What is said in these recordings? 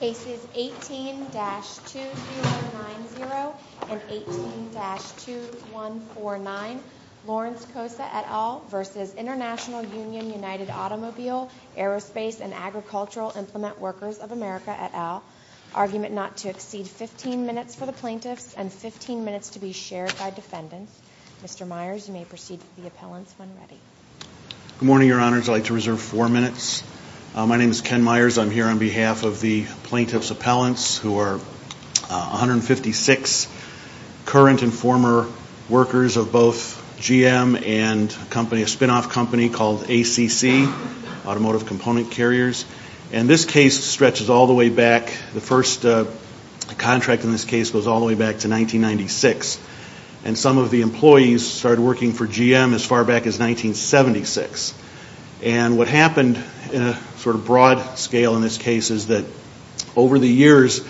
Aces 18-2090 and 18-2149, Lawrence Kosa et al. v. Intl Union United Automobile, Aerospace and Agricultural Implement Workers of America et al. Argument not to exceed 15 minutes for the plaintiffs and 15 minutes to be shared by defendants. Mr. Myers, you may proceed with the appellants when ready. Good morning, Your Honors. I'd like to reserve four minutes. My name is Ken Myers. I'm here on behalf of the plaintiff's appellants who are 156 current and former workers of both GM and a spin-off company called ACC, Automotive Component Carriers. And this case stretches all the way back, the first contract in this case goes all the way back to 1996. And some of the employees started working for GM as far back as 1976. And what happened in a sort of broad scale in this case is that over the years...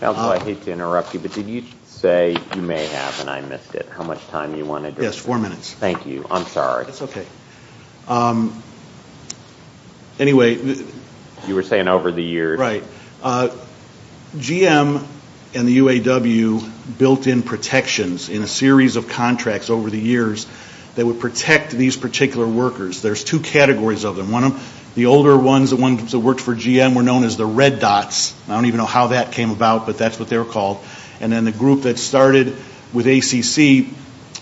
Counsel, I hate to interrupt you, but did you say, you may have and I missed it, how much time you wanted to... Yes, four minutes. Thank you. I'm sorry. That's okay. Anyway... You were saying over the years... GM and the UAW built in protections in a series of contracts over the years that would protect these particular workers. There's two categories of them. The older ones, the ones that worked for GM, were known as the red dots. I don't even know how that came about, but that's what they were called. And then the group that started with ACC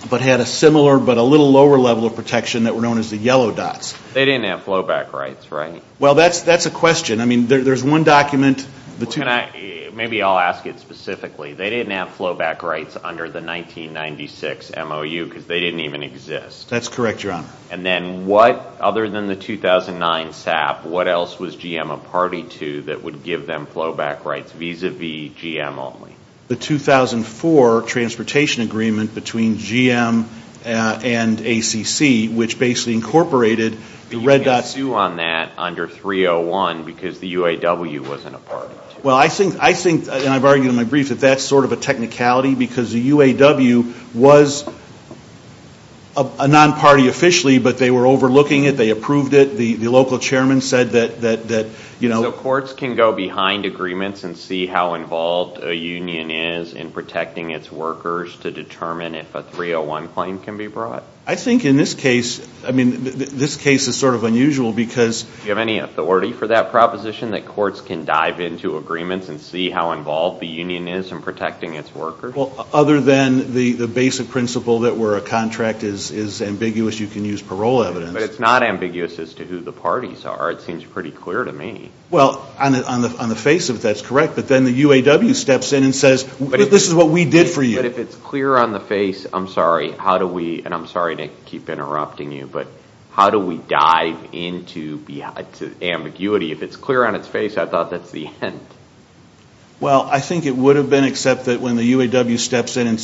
but had a similar but a little lower level of protection that were known as the yellow dots. They didn't have flow back rights, right? Well, that's a question. I mean, there's one document... Maybe I'll ask it specifically. They didn't have flow back rights under the 1996 MOU because they didn't even exist. That's correct, Your Honor. And then what, other than the 2009 SAP, what else was GM a party to that would give them flow back rights vis-a-vis GM only? The 2004 transportation agreement between GM and ACC, which basically incorporated the red dots... Because the UAW wasn't a party to it. Well, I think, and I've argued in my brief, that that's sort of a technicality because the UAW was a non-party officially, but they were overlooking it, they approved it, the local chairman said that, you know... So courts can go behind agreements and see how involved a union is in protecting its workers to determine if a 301 claim can be brought? I think in this case, I mean, this case is sort of unusual because... Do you have any authority for that proposition, that courts can dive into agreements and see how involved the union is in protecting its workers? Well, other than the basic principle that where a contract is ambiguous, you can use parole evidence. But it's not ambiguous as to who the parties are. It seems pretty clear to me. Well, on the face of it, that's correct, but then the UAW steps in and says, this is what we did for you. But if it's clear on the face, I'm sorry, how do we, and I'm sorry to keep interrupting you, but how do we dive into ambiguity? If it's clear on its face, I thought that's the end. Well, I think it would have been except that when the UAW steps in and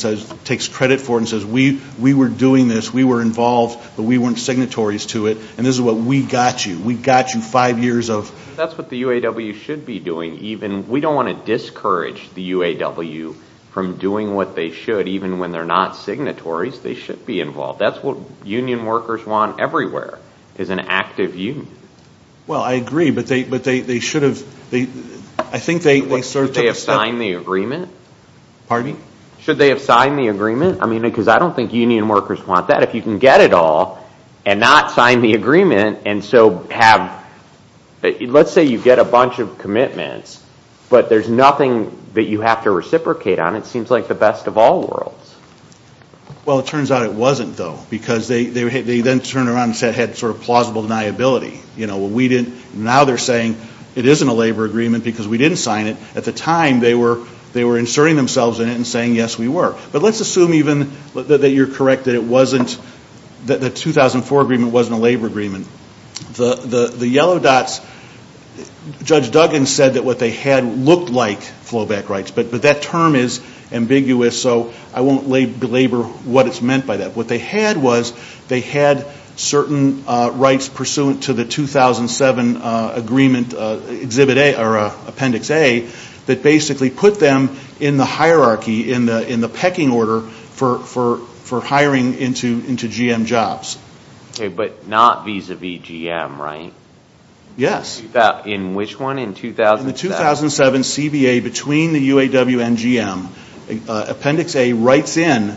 takes credit for it and says, we were doing this, we were involved, but we weren't signatories to it, and this is what we got you. We got you five years of... That's what the UAW should be doing, even, we don't want to discourage the UAW from doing what they should, even when they're not signatories, they should be involved. That's what union workers want everywhere, is an active union. Well, I agree, but they should have... Should they have signed the agreement? Pardon? Should they have signed the agreement? I mean, because I don't think union workers want that. I don't know if you can get it all and not sign the agreement and so have... Let's say you get a bunch of commitments, but there's nothing that you have to reciprocate on. It seems like the best of all worlds. Well, it turns out it wasn't, though, because they then turned around and said it had sort of plausible deniability. You know, we didn't... Now they're saying it isn't a labor agreement because we didn't sign it. At the time, they were inserting themselves in it and saying, yes, we were. But let's assume even that you're correct that it wasn't... That the 2004 agreement wasn't a labor agreement. The yellow dots, Judge Duggan said that what they had looked like flowback rights, but that term is ambiguous, so I won't belabor what it's meant by that. What they had was they had certain rights pursuant to the 2007 agreement, Appendix A, that basically put them in the hierarchy, in the pecking order for hiring into GM jobs. But not vis-a-vis GM, right? Yes. In which one, in 2007? In the 2007 CBA between the UAW and GM, Appendix A writes in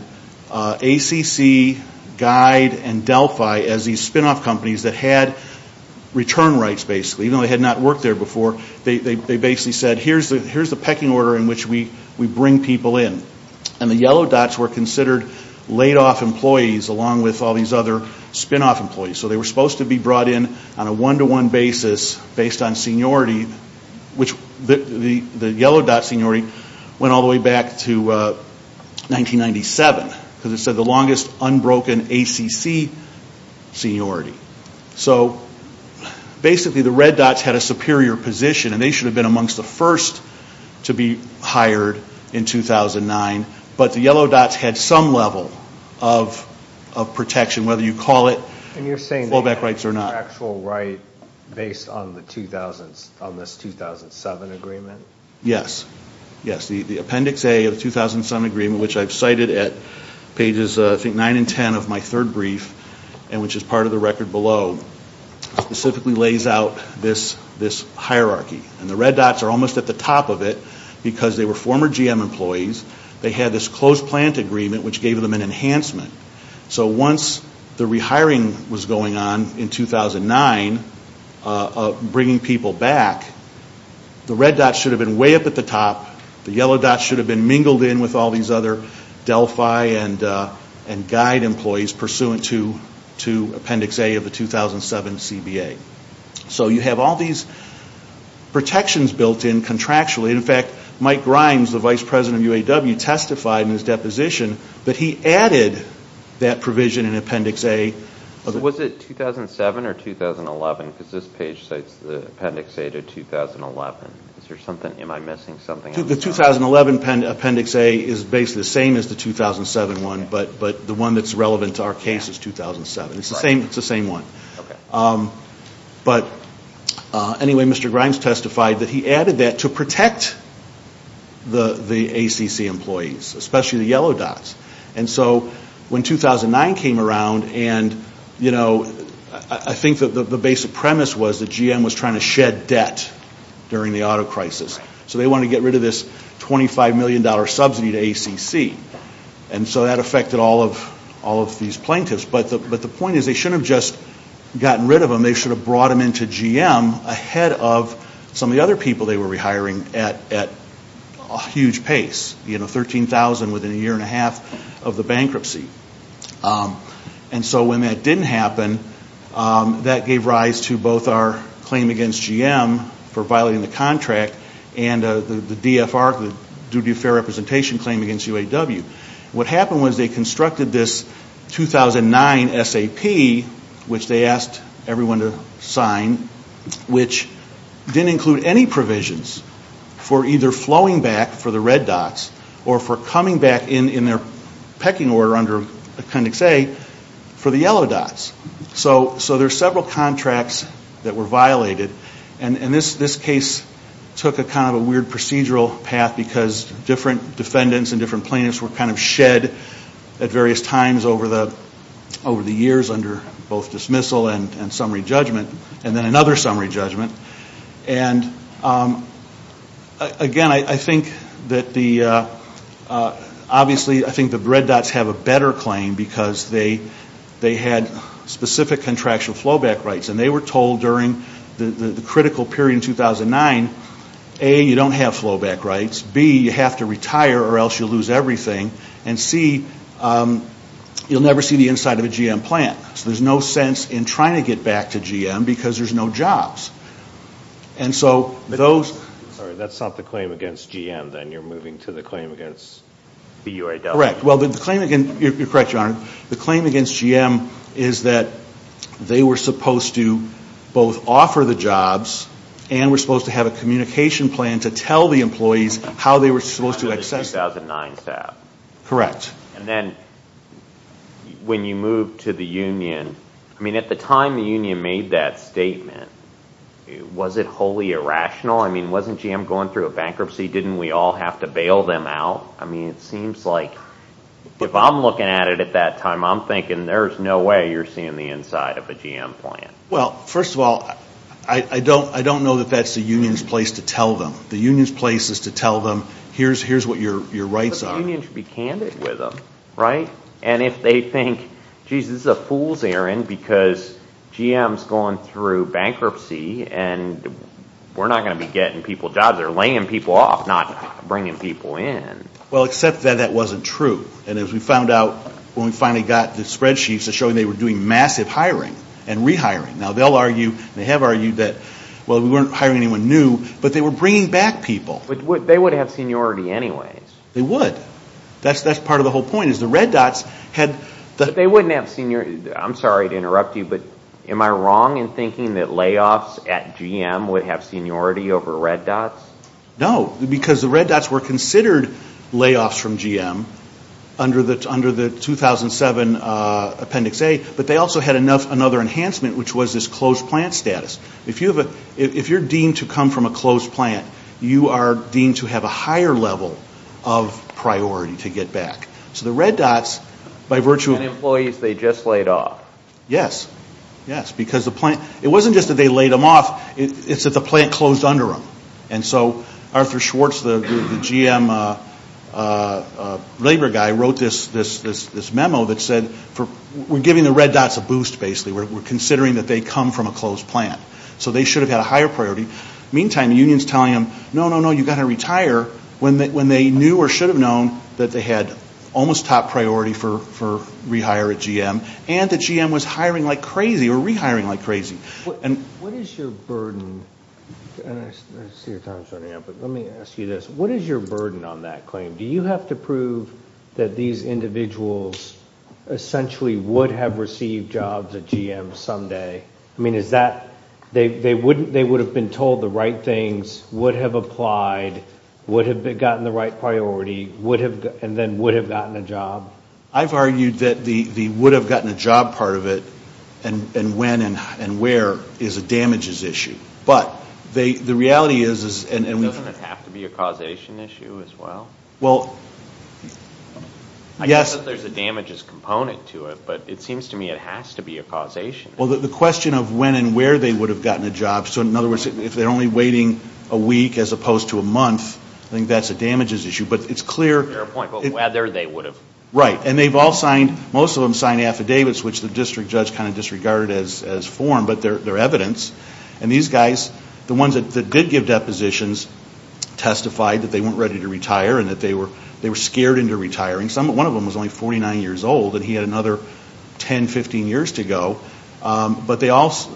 ACC, Guide, and Delphi as these spin-off companies that had return rights, basically. Even though they had not worked there before, they basically said, here's the pecking order in which we bring people in. And the yellow dots were considered laid-off employees along with all these other spin-off employees. So they were supposed to be brought in on a one-to-one basis based on seniority, which the yellow dot seniority went all the way back to 1997, because it said the longest unbroken ACC seniority. So basically the red dots had a superior position, and they should have been amongst the first to be hired in 2009. But the yellow dots had some level of protection, whether you call it fallback rights or not. And you're saying they had an actual right based on this 2007 agreement? Yes. The Appendix A of the 2007 agreement, which I've cited at pages, I think, 9 and 10 of my third brief, and which is part of the record below, specifically lays out this hierarchy. And the red dots are almost at the top of it because they were former GM employees. They had this close plant agreement, which gave them an enhancement. So once the rehiring was going on in 2009, bringing people back, the red dots should have been way up at the top. The yellow dots should have been mingled in with all these other Delphi and Guide employees pursuant to Appendix A of the 2007 CBA. So you have all these protections built in contractually. In fact, Mike Grimes, the vice president of UAW, testified in his deposition that he added that provision in Appendix A. Was it 2007 or 2011? Because this page cites the Appendix A to 2011. Am I missing something? The 2011 Appendix A is basically the same as the 2007 one, but the one that's relevant to our case is 2007. It's the same one. But anyway, Mr. Grimes testified that he added that to protect the ACC employees, especially the yellow dots. When 2009 came around, I think the basic premise was that GM was trying to shed debt during the auto crisis. So they wanted to get rid of this $25 million subsidy to ACC. So that affected all of these plaintiffs. But the point is they shouldn't have just gotten rid of them. They should have brought them into GM ahead of some of the other people they were rehiring at a huge pace. You know, $13,000 within a year and a half of the bankruptcy. And so when that didn't happen, that gave rise to both our claim against GM for violating the contract and the DFR, the duty of fair representation claim against UAW. What happened was they constructed this 2009 SAP, which they asked everyone to sign, which didn't include any provisions for either flowing back for the red dots or for coming back in their pecking order under Appendix A for the yellow dots. So there are several contracts that were violated. And this case took kind of a weird procedural path because different defendants and different plaintiffs were kind of shed at various times over the years under both dismissal and summary judgment. And then another summary judgment. And, again, I think that the red dots have a better claim because they had specific contractual flowback rights. And they were told during the critical period in 2009, A, you don't have flowback rights. B, you have to retire or else you'll lose everything. And C, you'll never see the inside of a GM plant. So there's no sense in trying to get back to GM because there's no jobs. And so those. Sorry. That's not the claim against GM then. You're moving to the claim against the UAW. Correct. Well, the claim against. You're correct, Your Honor. The claim against GM is that they were supposed to both offer the jobs and were supposed to have a communication plan to tell the employees how they were supposed to access it. 2009 SAP. Correct. And then when you moved to the union, I mean, at the time the union made that statement, was it wholly irrational? I mean, wasn't GM going through a bankruptcy? Didn't we all have to bail them out? I mean, it seems like if I'm looking at it at that time, I'm thinking there's no way you're seeing the inside of a GM plant. Well, first of all, I don't know that that's the union's place to tell them. The union's place is to tell them here's what your rights are. The union should be candid with them, right? And if they think, geez, this is a fool's errand because GM's going through bankruptcy and we're not going to be getting people jobs, they're laying people off, not bringing people in. Well, except that that wasn't true. And as we found out when we finally got the spreadsheets that showed they were doing massive hiring and rehiring. Now, they'll argue, they have argued that, well, we weren't hiring anyone new, but they were bringing back people. But they would have seniority anyways. They would. That's part of the whole point is the red dots had the... But they wouldn't have seniority. I'm sorry to interrupt you, but am I wrong in thinking that layoffs at GM would have seniority over red dots? No, because the red dots were considered layoffs from GM under the 2007 Appendix A, but they also had another enhancement, which was this closed plant status. If you're deemed to come from a closed plant, you are deemed to have a higher level of priority to get back. So the red dots, by virtue of... And employees, they just laid off. Yes. Yes, because the plant... It wasn't just that they laid them off, it's that the plant closed under them. And so Arthur Schwartz, the GM labor guy, wrote this memo that said we're giving the red dots a boost, basically. We're considering that they come from a closed plant. So they should have had a higher priority. Meantime, the union's telling them, no, no, no, you've got to retire, when they knew or should have known that they had almost top priority for rehire at GM and that GM was hiring like crazy or rehiring like crazy. What is your burden? And I see your time's running out, but let me ask you this. What is your burden on that claim? Do you have to prove that these individuals essentially would have received jobs at GM someday? I mean, is that they would have been told the right things, would have applied, would have gotten the right priority, and then would have gotten a job? I've argued that the would have gotten a job part of it and when and where is a damages issue. But the reality is... Doesn't it have to be a causation issue as well? Well, yes. I get that there's a damages component to it, but it seems to me it has to be a causation issue. Well, the question of when and where they would have gotten a job, so in other words, if they're only waiting a week as opposed to a month, I think that's a damages issue. But it's clear... Fair point, but whether they would have. Right, and they've all signed, most of them signed affidavits, which the district judge kind of disregarded as form, but they're evidence. And these guys, the ones that did give depositions, testified that they weren't ready to retire and that they were scared into retiring. One of them was only 49 years old and he had another 10, 15 years to go. But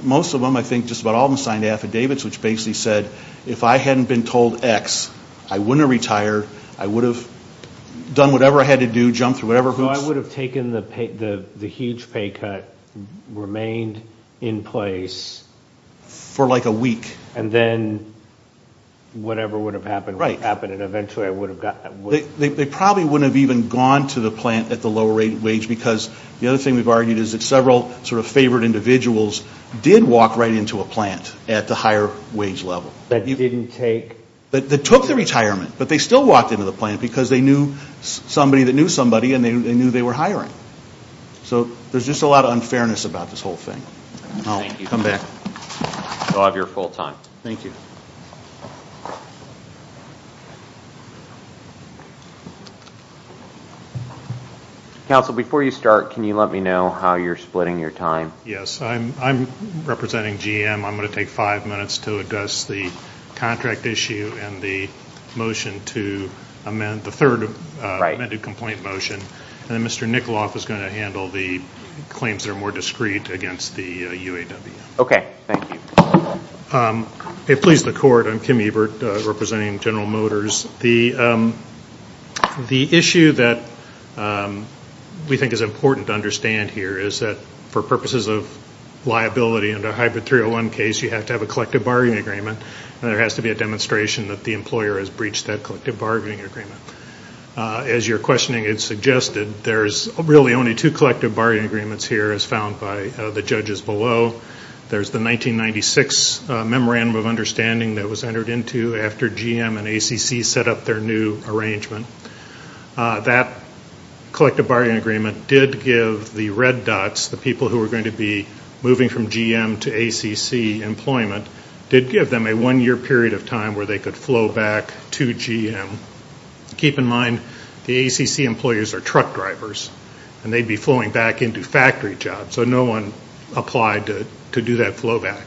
most of them, I think just about all of them signed affidavits, which basically said if I hadn't been told X, I wouldn't have retired, I would have done whatever I had to do, jumped through whatever hoops. So I would have taken the huge pay cut, remained in place... For like a week. And then whatever would have happened would have happened, and eventually I would have gotten... They probably wouldn't have even gone to the plant at the lower wage because the other thing we've argued is that several sort of favored individuals did walk right into a plant at the higher wage level. That didn't take... That took the retirement, but they still walked into the plant because they knew somebody that knew somebody and they knew they were hiring. So there's just a lot of unfairness about this whole thing. I'll come back. I'll have your full time. Thank you. Council, before you start, can you let me know how you're splitting your time? Yes, I'm representing GM. I'm going to take five minutes to address the contract issue and the motion to amend the third amended complaint motion. And then Mr. Nikoloff is going to handle the claims that are more discreet against the UAW. Okay. Thank you. It pleases the Court. I'm Kim Ebert, representing General Motors. The issue that we think is important to understand here is that for purposes of liability in the hybrid 301 case, you have to have a collective bargaining agreement and there has to be a demonstration that the employer has breached that collective bargaining agreement. As your questioning had suggested, there's really only two collective bargaining agreements here, as found by the judges below. There's the 1996 Memorandum of Understanding that was entered into after GM and ACC set up their new arrangement. That collective bargaining agreement did give the red dots, the people who were going to be moving from GM to ACC employment, did give them a one-year period of time where they could flow back to GM. Keep in mind, the ACC employers are truck drivers, and they'd be flowing back into factory jobs, so no one applied to do that flow back.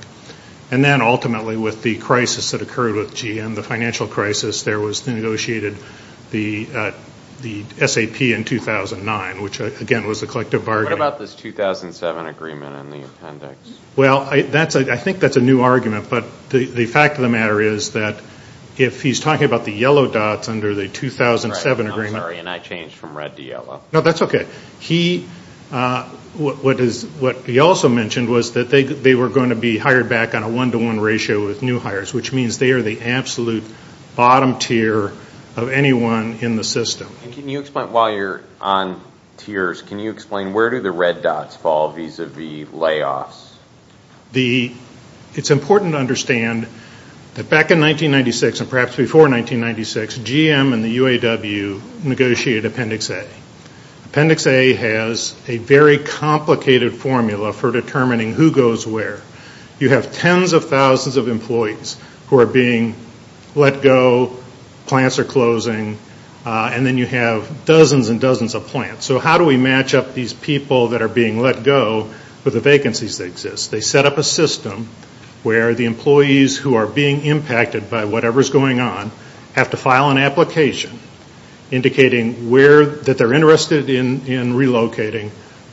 And then ultimately with the crisis that occurred with GM, the financial crisis, there was negotiated the SAP in 2009, which again was a collective bargaining agreement. What about this 2007 agreement and the appendix? Well, I think that's a new argument, but the fact of the matter is that if he's talking about the yellow dots under the 2007 agreement. I'm sorry, and I changed from red to yellow. No, that's okay. What he also mentioned was that they were going to be hired back on a one-to-one ratio with new hires, which means they are the absolute bottom tier of anyone in the system. While you're on tiers, can you explain where do the red dots fall vis-à-vis layoffs? It's important to understand that back in 1996 and perhaps before 1996, GM and the UAW negotiated Appendix A. Appendix A has a very complicated formula for determining who goes where. You have tens of thousands of employees who are being let go, plants are closing, and then you have dozens and dozens of plants. So how do we match up these people that are being let go with the vacancies that exist? They set up a system where the employees who are being impacted by whatever is going on have to file an application indicating that they're interested in relocating,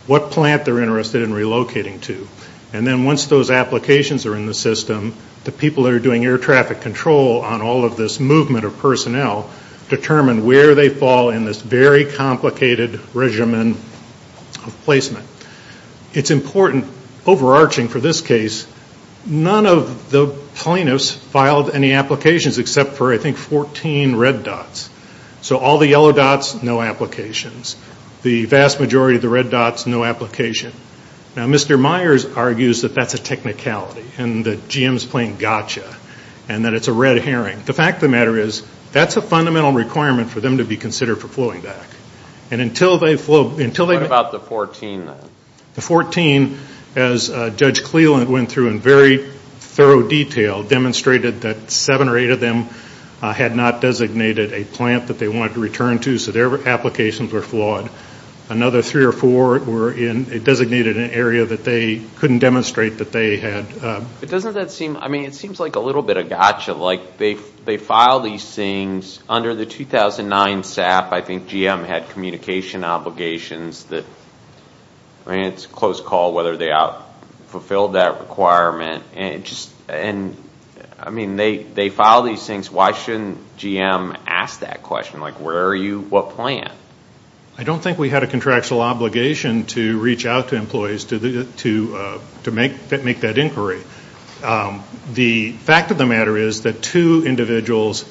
what plant they're interested in relocating to. And then once those applications are in the system, the people that are doing air traffic control on all of this movement of personnel determine where they fall in this very complicated regimen of placement. It's important, overarching for this case, none of the plaintiffs filed any applications except for, I think, 14 red dots. So all the yellow dots, no applications. The vast majority of the red dots, no application. Now, Mr. Myers argues that that's a technicality and the GM is playing gotcha and that it's a red herring. The fact of the matter is that's a fundamental requirement for them to be considered for flowing back. And until they flow, until they go back. What about the 14? The 14, as Judge Cleland went through in very thorough detail, demonstrated that seven or eight of them had not designated a plant that they wanted to return to, so their applications were flawed. Another three or four were designated in an area that they couldn't demonstrate that they had. But doesn't that seem, I mean, it seems like a little bit of gotcha. Like, they filed these things under the 2009 SAP. I think GM had communication obligations that, I mean, it's a close call whether they fulfilled that requirement. And, I mean, they filed these things. Why shouldn't GM ask that question? Like, where are you, what plant? I don't think we had a contractual obligation to reach out to employees to make that inquiry. The fact of the matter is that two individuals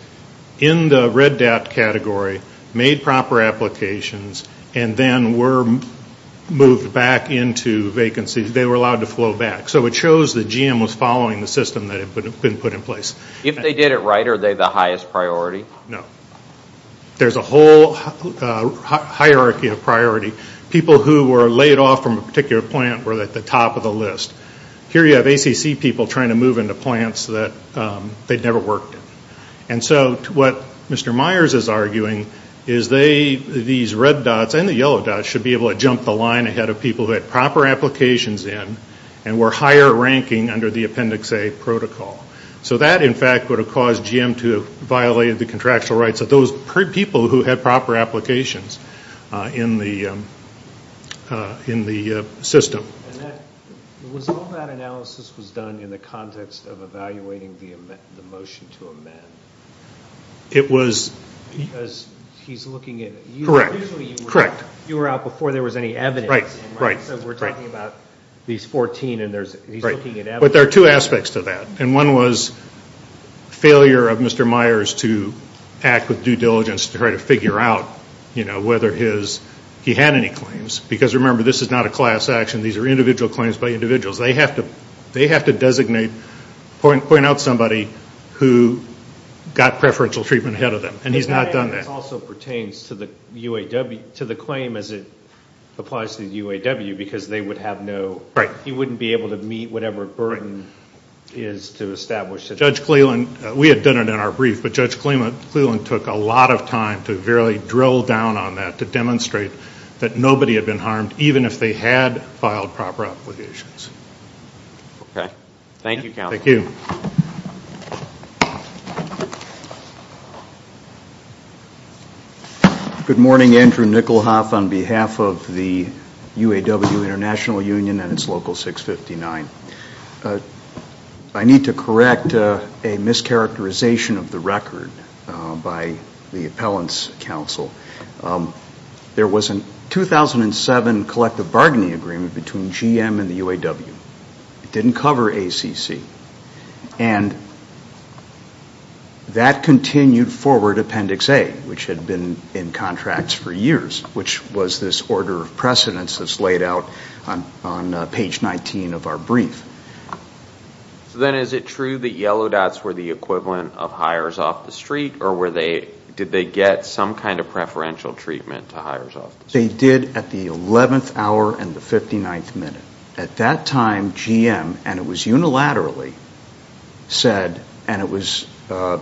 in the red DAT category made proper applications and then were moved back into vacancies. They were allowed to flow back. So it shows that GM was following the system that had been put in place. If they did it right, are they the highest priority? No. There's a whole hierarchy of priority. People who were laid off from a particular plant were at the top of the list. Here you have ACC people trying to move into plants that they'd never worked in. And so what Mr. Myers is arguing is they, these red dots and the yellow dots, should be able to jump the line ahead of people who had proper applications in and were higher ranking under the Appendix A protocol. So that, in fact, would have caused GM to have violated the contractual rights of those people who had proper applications in the system. And was all that analysis was done in the context of evaluating the motion to amend? It was. Because he's looking at it. Correct. Usually you were out before there was any evidence. Right, right. So we're talking about these 14 and he's looking at evidence. But there are two aspects to that. And one was failure of Mr. Myers to act with due diligence to try to figure out, you know, whether he had any claims. Because, remember, this is not a class action. These are individual claims by individuals. They have to designate, point out somebody who got preferential treatment ahead of them. And he's not done that. But that also pertains to the claim as it applies to the UAW because they would have no, he wouldn't be able to meet whatever burden is to establish that. Judge Cleland, we had done it in our brief, but Judge Cleland took a lot of time to really drill down on that, to demonstrate that nobody had been harmed even if they had filed proper obligations. Okay. Thank you, counsel. Thank you. Good morning. Andrew Nicholhoff on behalf of the UAW International Union and its local 659. I need to correct a mischaracterization of the record by the appellant's counsel. There was a 2007 collective bargaining agreement between GM and the UAW. It didn't cover ACC. And that continued forward Appendix A, which had been in contracts for years, which was this order of precedence that's laid out on page 19 of our brief. So then is it true that yellow dots were the equivalent of hires off the street or did they get some kind of preferential treatment to hires off the street? They did at the 11th hour and the 59th minute. At that time, GM, and it was unilaterally, said, and it was from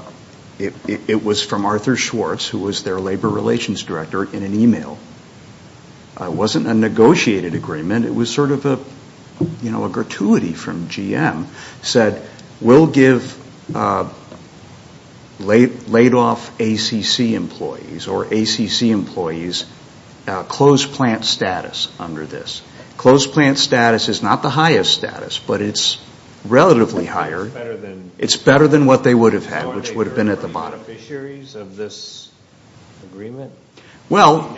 Arthur Schwartz, who was their labor relations director, in an e-mail. It wasn't a negotiated agreement. It was sort of a gratuity from GM, said, we'll give laid off ACC employees or ACC employees closed plant status under this. Closed plant status is not the highest status, but it's relatively higher. It's better than what they would have had, which would have been at the bottom. Are they current beneficiaries of this agreement? Well.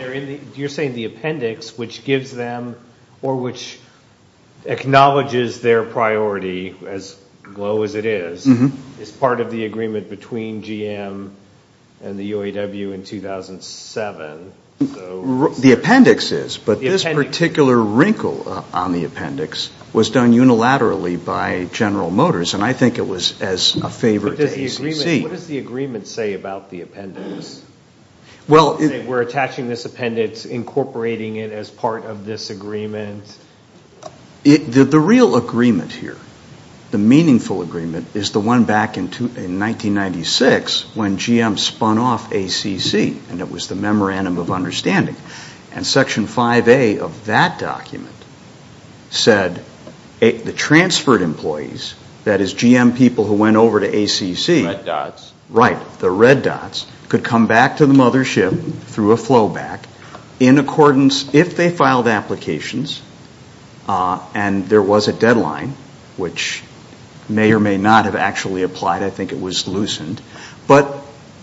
You're saying the appendix, which gives them or which acknowledges their priority as low as it is, is part of the agreement between GM and the UAW in 2007. The appendix is, but this particular wrinkle on the appendix was done unilaterally by General Motors, and I think it was as a favor to ACC. What does the agreement say about the appendix? Well. We're attaching this appendix, incorporating it as part of this agreement. The real agreement here, the meaningful agreement, is the one back in 1996 when GM spun off ACC, and it was the Memorandum of Understanding. And Section 5A of that document said the transferred employees, that is, GM people who went over to ACC. The red dots. Right. The red dots could come back to the mothership through a flowback in accordance, if they filed applications and there was a deadline, which may or may not have actually applied. I think it was loosened. But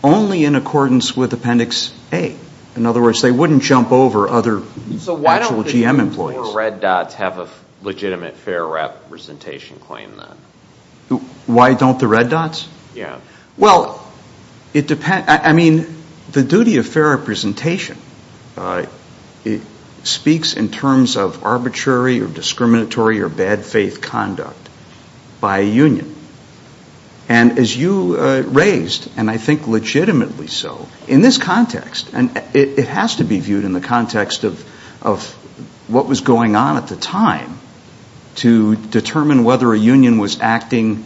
only in accordance with Appendix A. In other words, they wouldn't jump over other actual GM employees. So why don't the four red dots have a legitimate fair representation claim then? Why don't the red dots? Yeah. Well, I mean, the duty of fair representation speaks in terms of arbitrary or discriminatory or bad faith conduct by a union. And as you raised, and I think legitimately so, in this context, and it has to be viewed in the context of what was going on at the time to determine whether a union was acting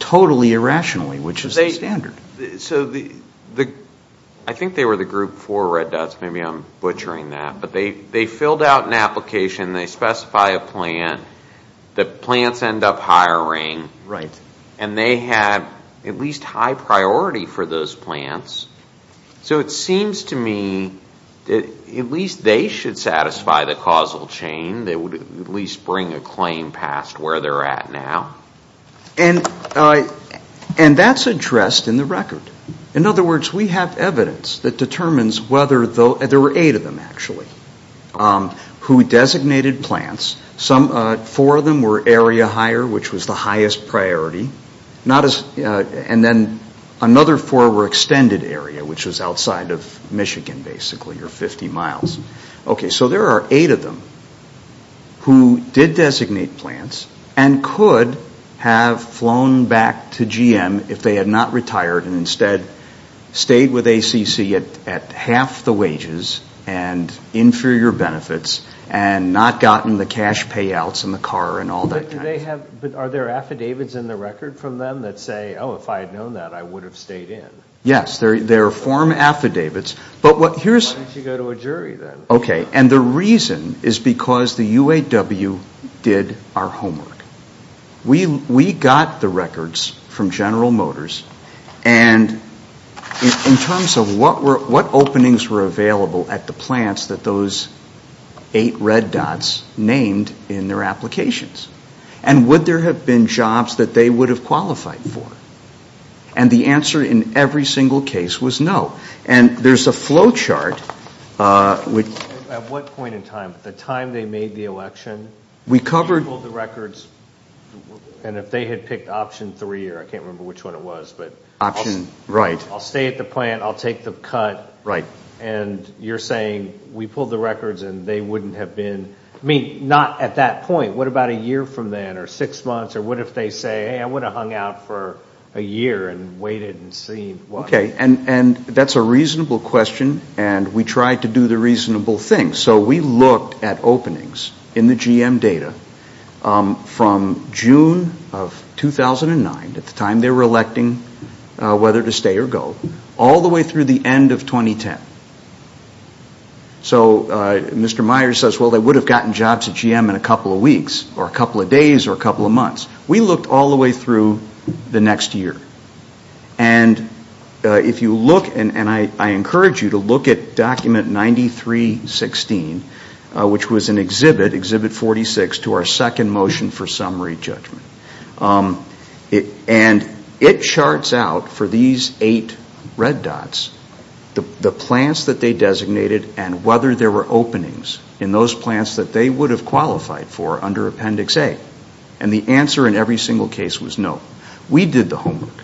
totally irrationally, which is the standard. So I think they were the group four red dots. Maybe I'm butchering that. But they filled out an application. They specify a plant. The plants end up hiring. Right. And they had at least high priority for those plants. So it seems to me that at least they should satisfy the causal chain. They would at least bring a claim past where they're at now. And that's addressed in the record. In other words, we have evidence that determines whether there were eight of them, actually, who designated plants. Four of them were area higher, which was the highest priority. And then another four were extended area, which was outside of Michigan, basically, or 50 miles. Okay. So there are eight of them who did designate plants and could have flown back to GM if they had not retired and instead stayed with ACC at half the wages and inferior benefits and not gotten the cash payouts and the car and all that kind of stuff. But are there affidavits in the record from them that say, oh, if I had known that, I would have stayed in? Yes. There are form affidavits. Why don't you go to a jury, then? Okay. And the reason is because the UAW did our homework. We got the records from General Motors. And in terms of what openings were available at the plants that those eight red dots named in their applications, and would there have been jobs that they would have qualified for? And the answer in every single case was no. And there's a flow chart. At what point in time? At the time they made the election? We covered the records. And if they had picked option three, or I can't remember which one it was. Option, right. I'll stay at the plant. I'll take the cut. Right. And you're saying we pulled the records and they wouldn't have been. I mean, not at that point. What about a year from then or six months? Or what if they say, hey, I would have hung out for a year and waited and seen. Okay. And that's a reasonable question. And we tried to do the reasonable thing. So we looked at openings in the GM data from June of 2009, at the time they were electing whether to stay or go, all the way through the end of 2010. So Mr. Myers says, well, they would have gotten jobs at GM in a couple of weeks or a couple of days or a couple of months. We looked all the way through the next year. And if you look, and I encourage you to look at Document 93-16, which was an exhibit, Exhibit 46, to our second motion for summary judgment. And it charts out for these eight red dots the plants that they designated and whether there were openings in those plants that they would have qualified for under Appendix A. And the answer in every single case was no. We did the homework.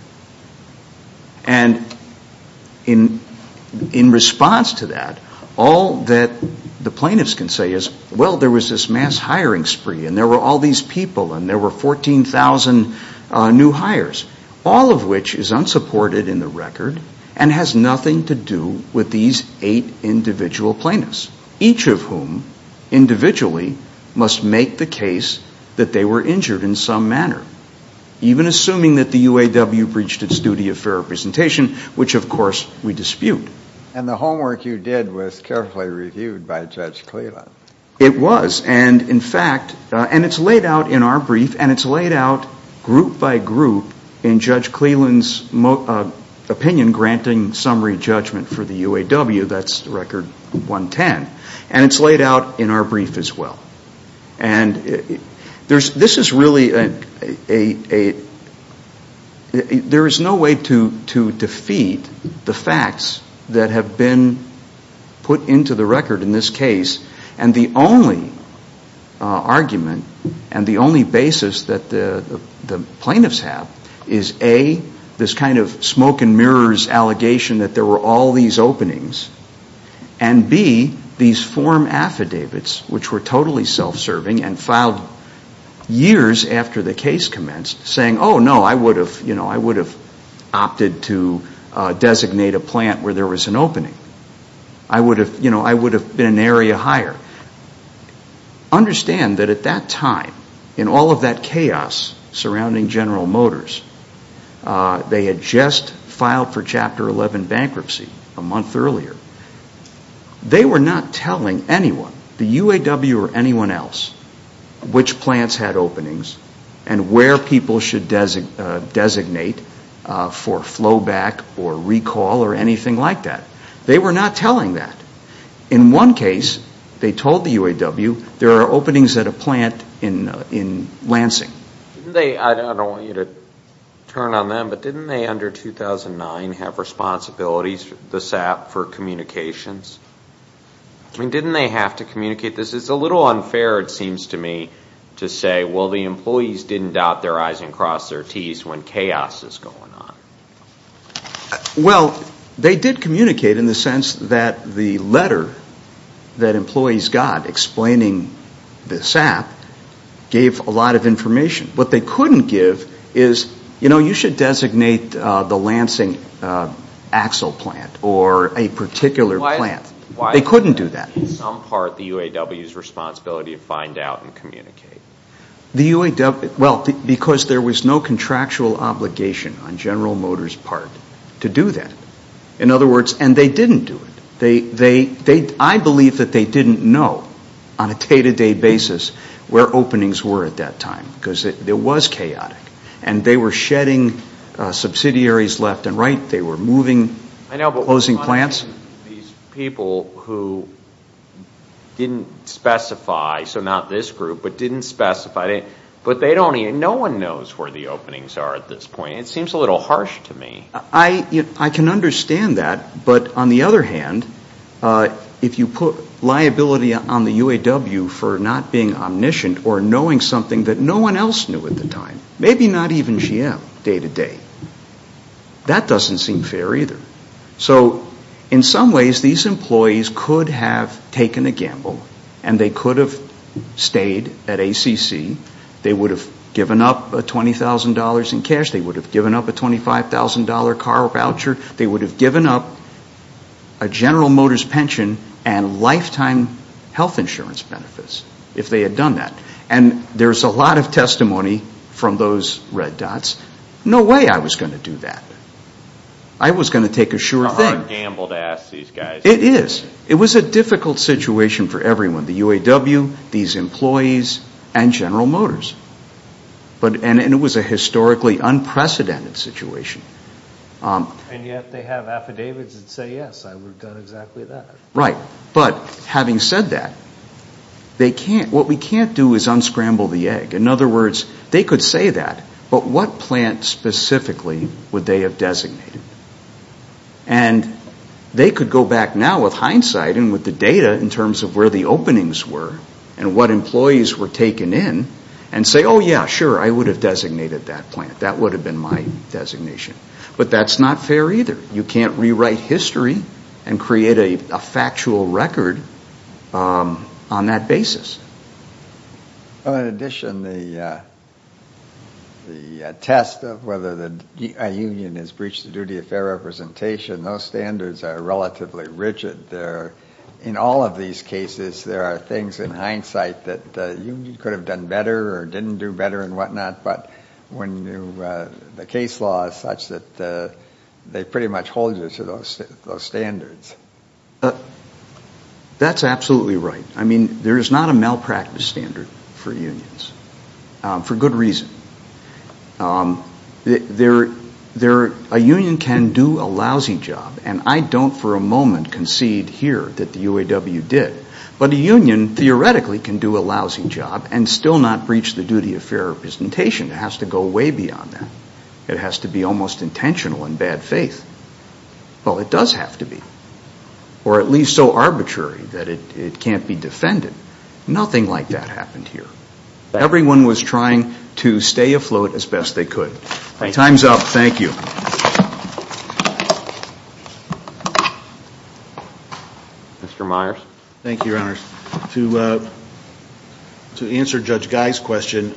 And in response to that, all that the plaintiffs can say is, well, there was this mass hiring spree and there were all these people and there were 14,000 new hires, all of which is unsupported in the record and has nothing to do with these eight individual plaintiffs, each of whom individually must make the case that they were injured in some manner, even assuming that the UAW breached its duty of fair representation, which, of course, we dispute. And the homework you did was carefully reviewed by Judge Cleland. It was. And, in fact, and it's laid out in our brief and it's laid out group by group in Judge Cleland's opinion granting summary judgment for the UAW. That's Record 110. And it's laid out in our brief as well. And this is really a, there is no way to defeat the facts that have been put into the record in this case. And the only argument and the only basis that the plaintiffs have is, A, this kind of smoke and mirrors allegation that there were all these openings, and, B, these form affidavits, which were totally self-serving and filed years after the case commenced, saying, oh, no, I would have opted to designate a plant where there was an opening. I would have been an area hire. Understand that at that time, in all of that chaos surrounding General Motors, they had just filed for Chapter 11 bankruptcy a month earlier. They were not telling anyone, the UAW or anyone else, which plants had openings and where people should designate for flowback or recall or anything like that. They were not telling that. In one case, they told the UAW, there are openings at a plant in Lansing. I don't want you to turn on them, but didn't they, under 2009, have responsibilities, the SAP, for communications? I mean, didn't they have to communicate this? It's a little unfair, it seems to me, to say, well, the employees didn't dot their I's and cross their T's when chaos is going on. Well, they did communicate in the sense that the letter that employees got explaining the SAP gave a lot of information. What they couldn't give is, you know, you should designate the Lansing axle plant or a particular plant. Why is that? They couldn't do that. In some part, the UAW's responsibility to find out and communicate. Well, because there was no contractual obligation on General Motors' part to do that. In other words, and they didn't do it. I believe that they didn't know, on a day-to-day basis, where openings were at that time. Because it was chaotic. And they were shedding subsidiaries left and right. They were moving and closing plants. These people who didn't specify, so not this group, but didn't specify, but no one knows where the openings are at this point. It seems a little harsh to me. I can understand that. But on the other hand, if you put liability on the UAW for not being omniscient or knowing something that no one else knew at the time, maybe not even GM day-to-day, that doesn't seem fair either. So in some ways, these employees could have taken a gamble and they could have stayed at ACC. They would have given up $20,000 in cash. They would have given up a $25,000 car voucher. They would have given up a General Motors pension and lifetime health insurance benefits, if they had done that. And there's a lot of testimony from those red dots. No way I was going to do that. I was going to take a sure thing. It's not a gamble to ask these guys. It is. It was a difficult situation for everyone, the UAW, these employees, and General Motors. And it was a historically unprecedented situation. And yet they have affidavits that say, yes, I would have done exactly that. Right. But having said that, what we can't do is unscramble the egg. In other words, they could say that, but what plant specifically would they have designated? And they could go back now with hindsight and with the data in terms of where the openings were and what employees were taken in and say, oh, yeah, sure, I would have designated that plant. That would have been my designation. But that's not fair either. You can't rewrite history and create a factual record on that basis. In addition, the test of whether a union has breached the duty of fair representation, those standards are relatively rigid. In all of these cases, there are things in hindsight that the union could have done better or didn't do better and whatnot, but the case law is such that they pretty much hold you to those standards. That's absolutely right. I mean, there is not a malpractice standard for unions for good reason. A union can do a lousy job, and I don't for a moment concede here that the UAW did, but a union theoretically can do a lousy job and still not breach the duty of fair representation. It has to go way beyond that. It has to be almost intentional in bad faith. Well, it does have to be, or at least so arbitrary that it can't be defended. Nothing like that happened here. Everyone was trying to stay afloat as best they could. Time's up. Thank you. Mr. Myers. Thank you, Your Honors. To answer Judge Guy's question,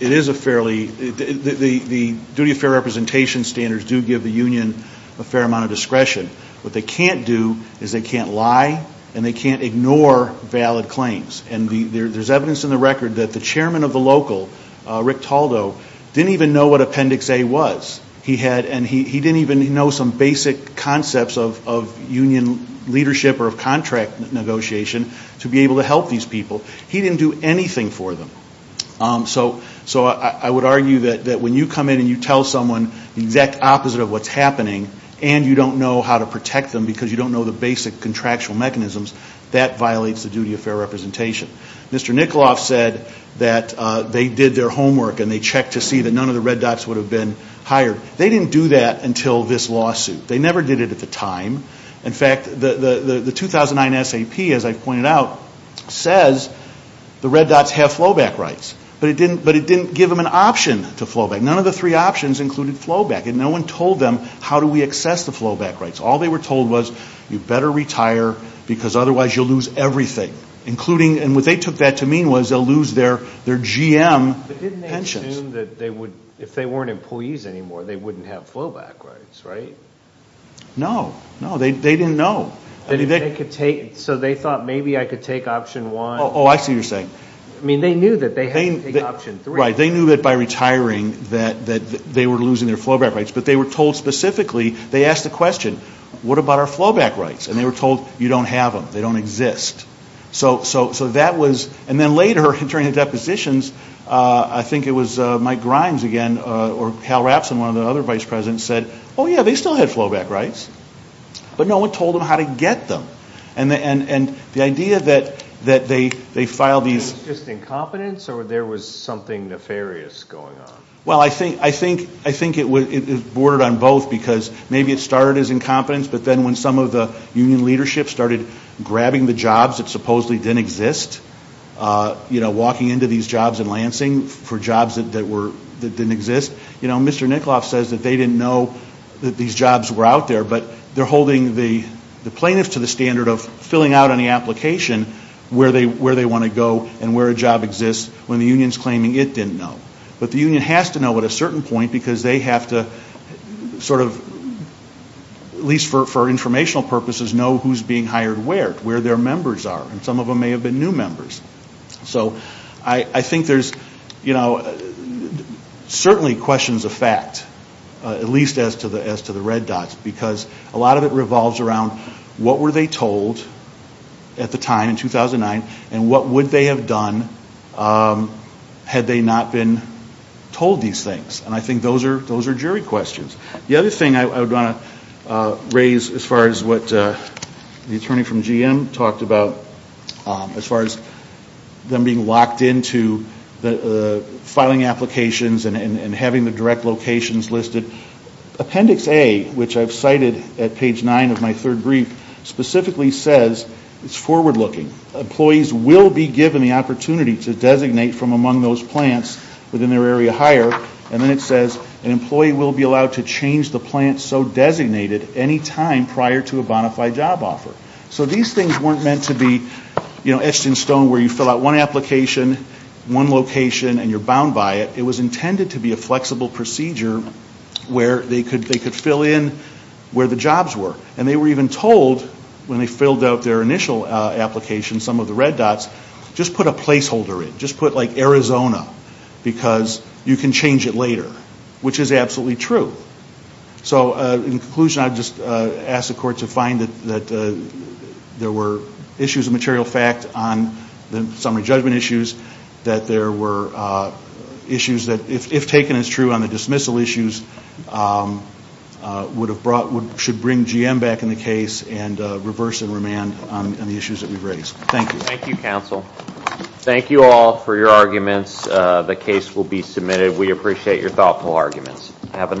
it is a fairly – the duty of fair representation standards do give the union a fair amount of discretion. What they can't do is they can't lie and they can't ignore valid claims, and there's evidence in the record that the chairman of the local, Rick Taldow, didn't even know what Appendix A was. He didn't even know some basic concepts of union leadership or of contract negotiation to be able to help these people. He didn't do anything for them. So I would argue that when you come in and you tell someone the exact opposite of what's happening and you don't know how to protect them because you don't know the basic contractual mechanisms, that violates the duty of fair representation. Mr. Nikoloff said that they did their homework and they checked to see that none of the red dots would have been hired. They didn't do that until this lawsuit. They never did it at the time. In fact, the 2009 SAP, as I've pointed out, says the red dots have flowback rights, but it didn't give them an option to flowback. None of the three options included flowback, and no one told them how do we access the flowback rights. All they were told was you better retire because otherwise you'll lose everything, and what they took that to mean was they'll lose their GM pensions. But didn't they assume that if they weren't employees anymore, they wouldn't have flowback rights, right? No. No, they didn't know. So they thought maybe I could take option one. Oh, I see what you're saying. I mean, they knew that they had to take option three. Right, they knew that by retiring that they were losing their flowback rights, but they were told specifically, they asked the question, what about our flowback rights? And they were told you don't have them. They don't exist. So that was, and then later during the depositions, I think it was Mike Grimes again or Hal Rapson, one of the other vice presidents, said, oh, yeah, they still had flowback rights, but no one told them how to get them. And the idea that they filed these. Was it just incompetence or there was something nefarious going on? Well, I think it bordered on both because maybe it started as incompetence, but then when some of the union leadership started grabbing the jobs that supposedly didn't exist, you know, walking into these jobs in Lansing for jobs that didn't exist. You know, Mr. Nikoloff says that they didn't know that these jobs were out there, but they're holding the plaintiffs to the standard of filling out on the application where they want to go and where a job exists when the union's claiming it didn't know. But the union has to know at a certain point because they have to sort of, at least for informational purposes, know who's being hired where, where their members are. And some of them may have been new members. So I think there's, you know, certainly questions of fact, at least as to the red dots, because a lot of it revolves around what were they told at the time in 2009 and what would they have done had they not been told these things. And I think those are jury questions. The other thing I would want to raise as far as what the attorney from GM talked about, as far as them being locked into the filing applications and having the direct locations listed, Appendix A, which I've cited at page 9 of my third brief, specifically says it's forward looking. Employees will be given the opportunity to designate from among those plants within their area hired. And then it says an employee will be allowed to change the plant so designated any time prior to a bona fide job offer. So these things weren't meant to be, you know, etched in stone where you fill out one application, one location, and you're bound by it. It was intended to be a flexible procedure where they could fill in where the jobs were. And they were even told when they filled out their initial application, some of the red dots, just put a placeholder in, just put like Arizona, because you can change it later, which is absolutely true. So in conclusion, I'd just ask the court to find that there were issues of material fact on the summary judgment issues, that there were issues that, if taken as true on the dismissal issues, should bring GM back in the case and reverse and remand on the issues that we've raised. Thank you. Thank you, counsel. Thank you all for your arguments. The case will be submitted. We appreciate your thoughtful arguments. Have a nice day.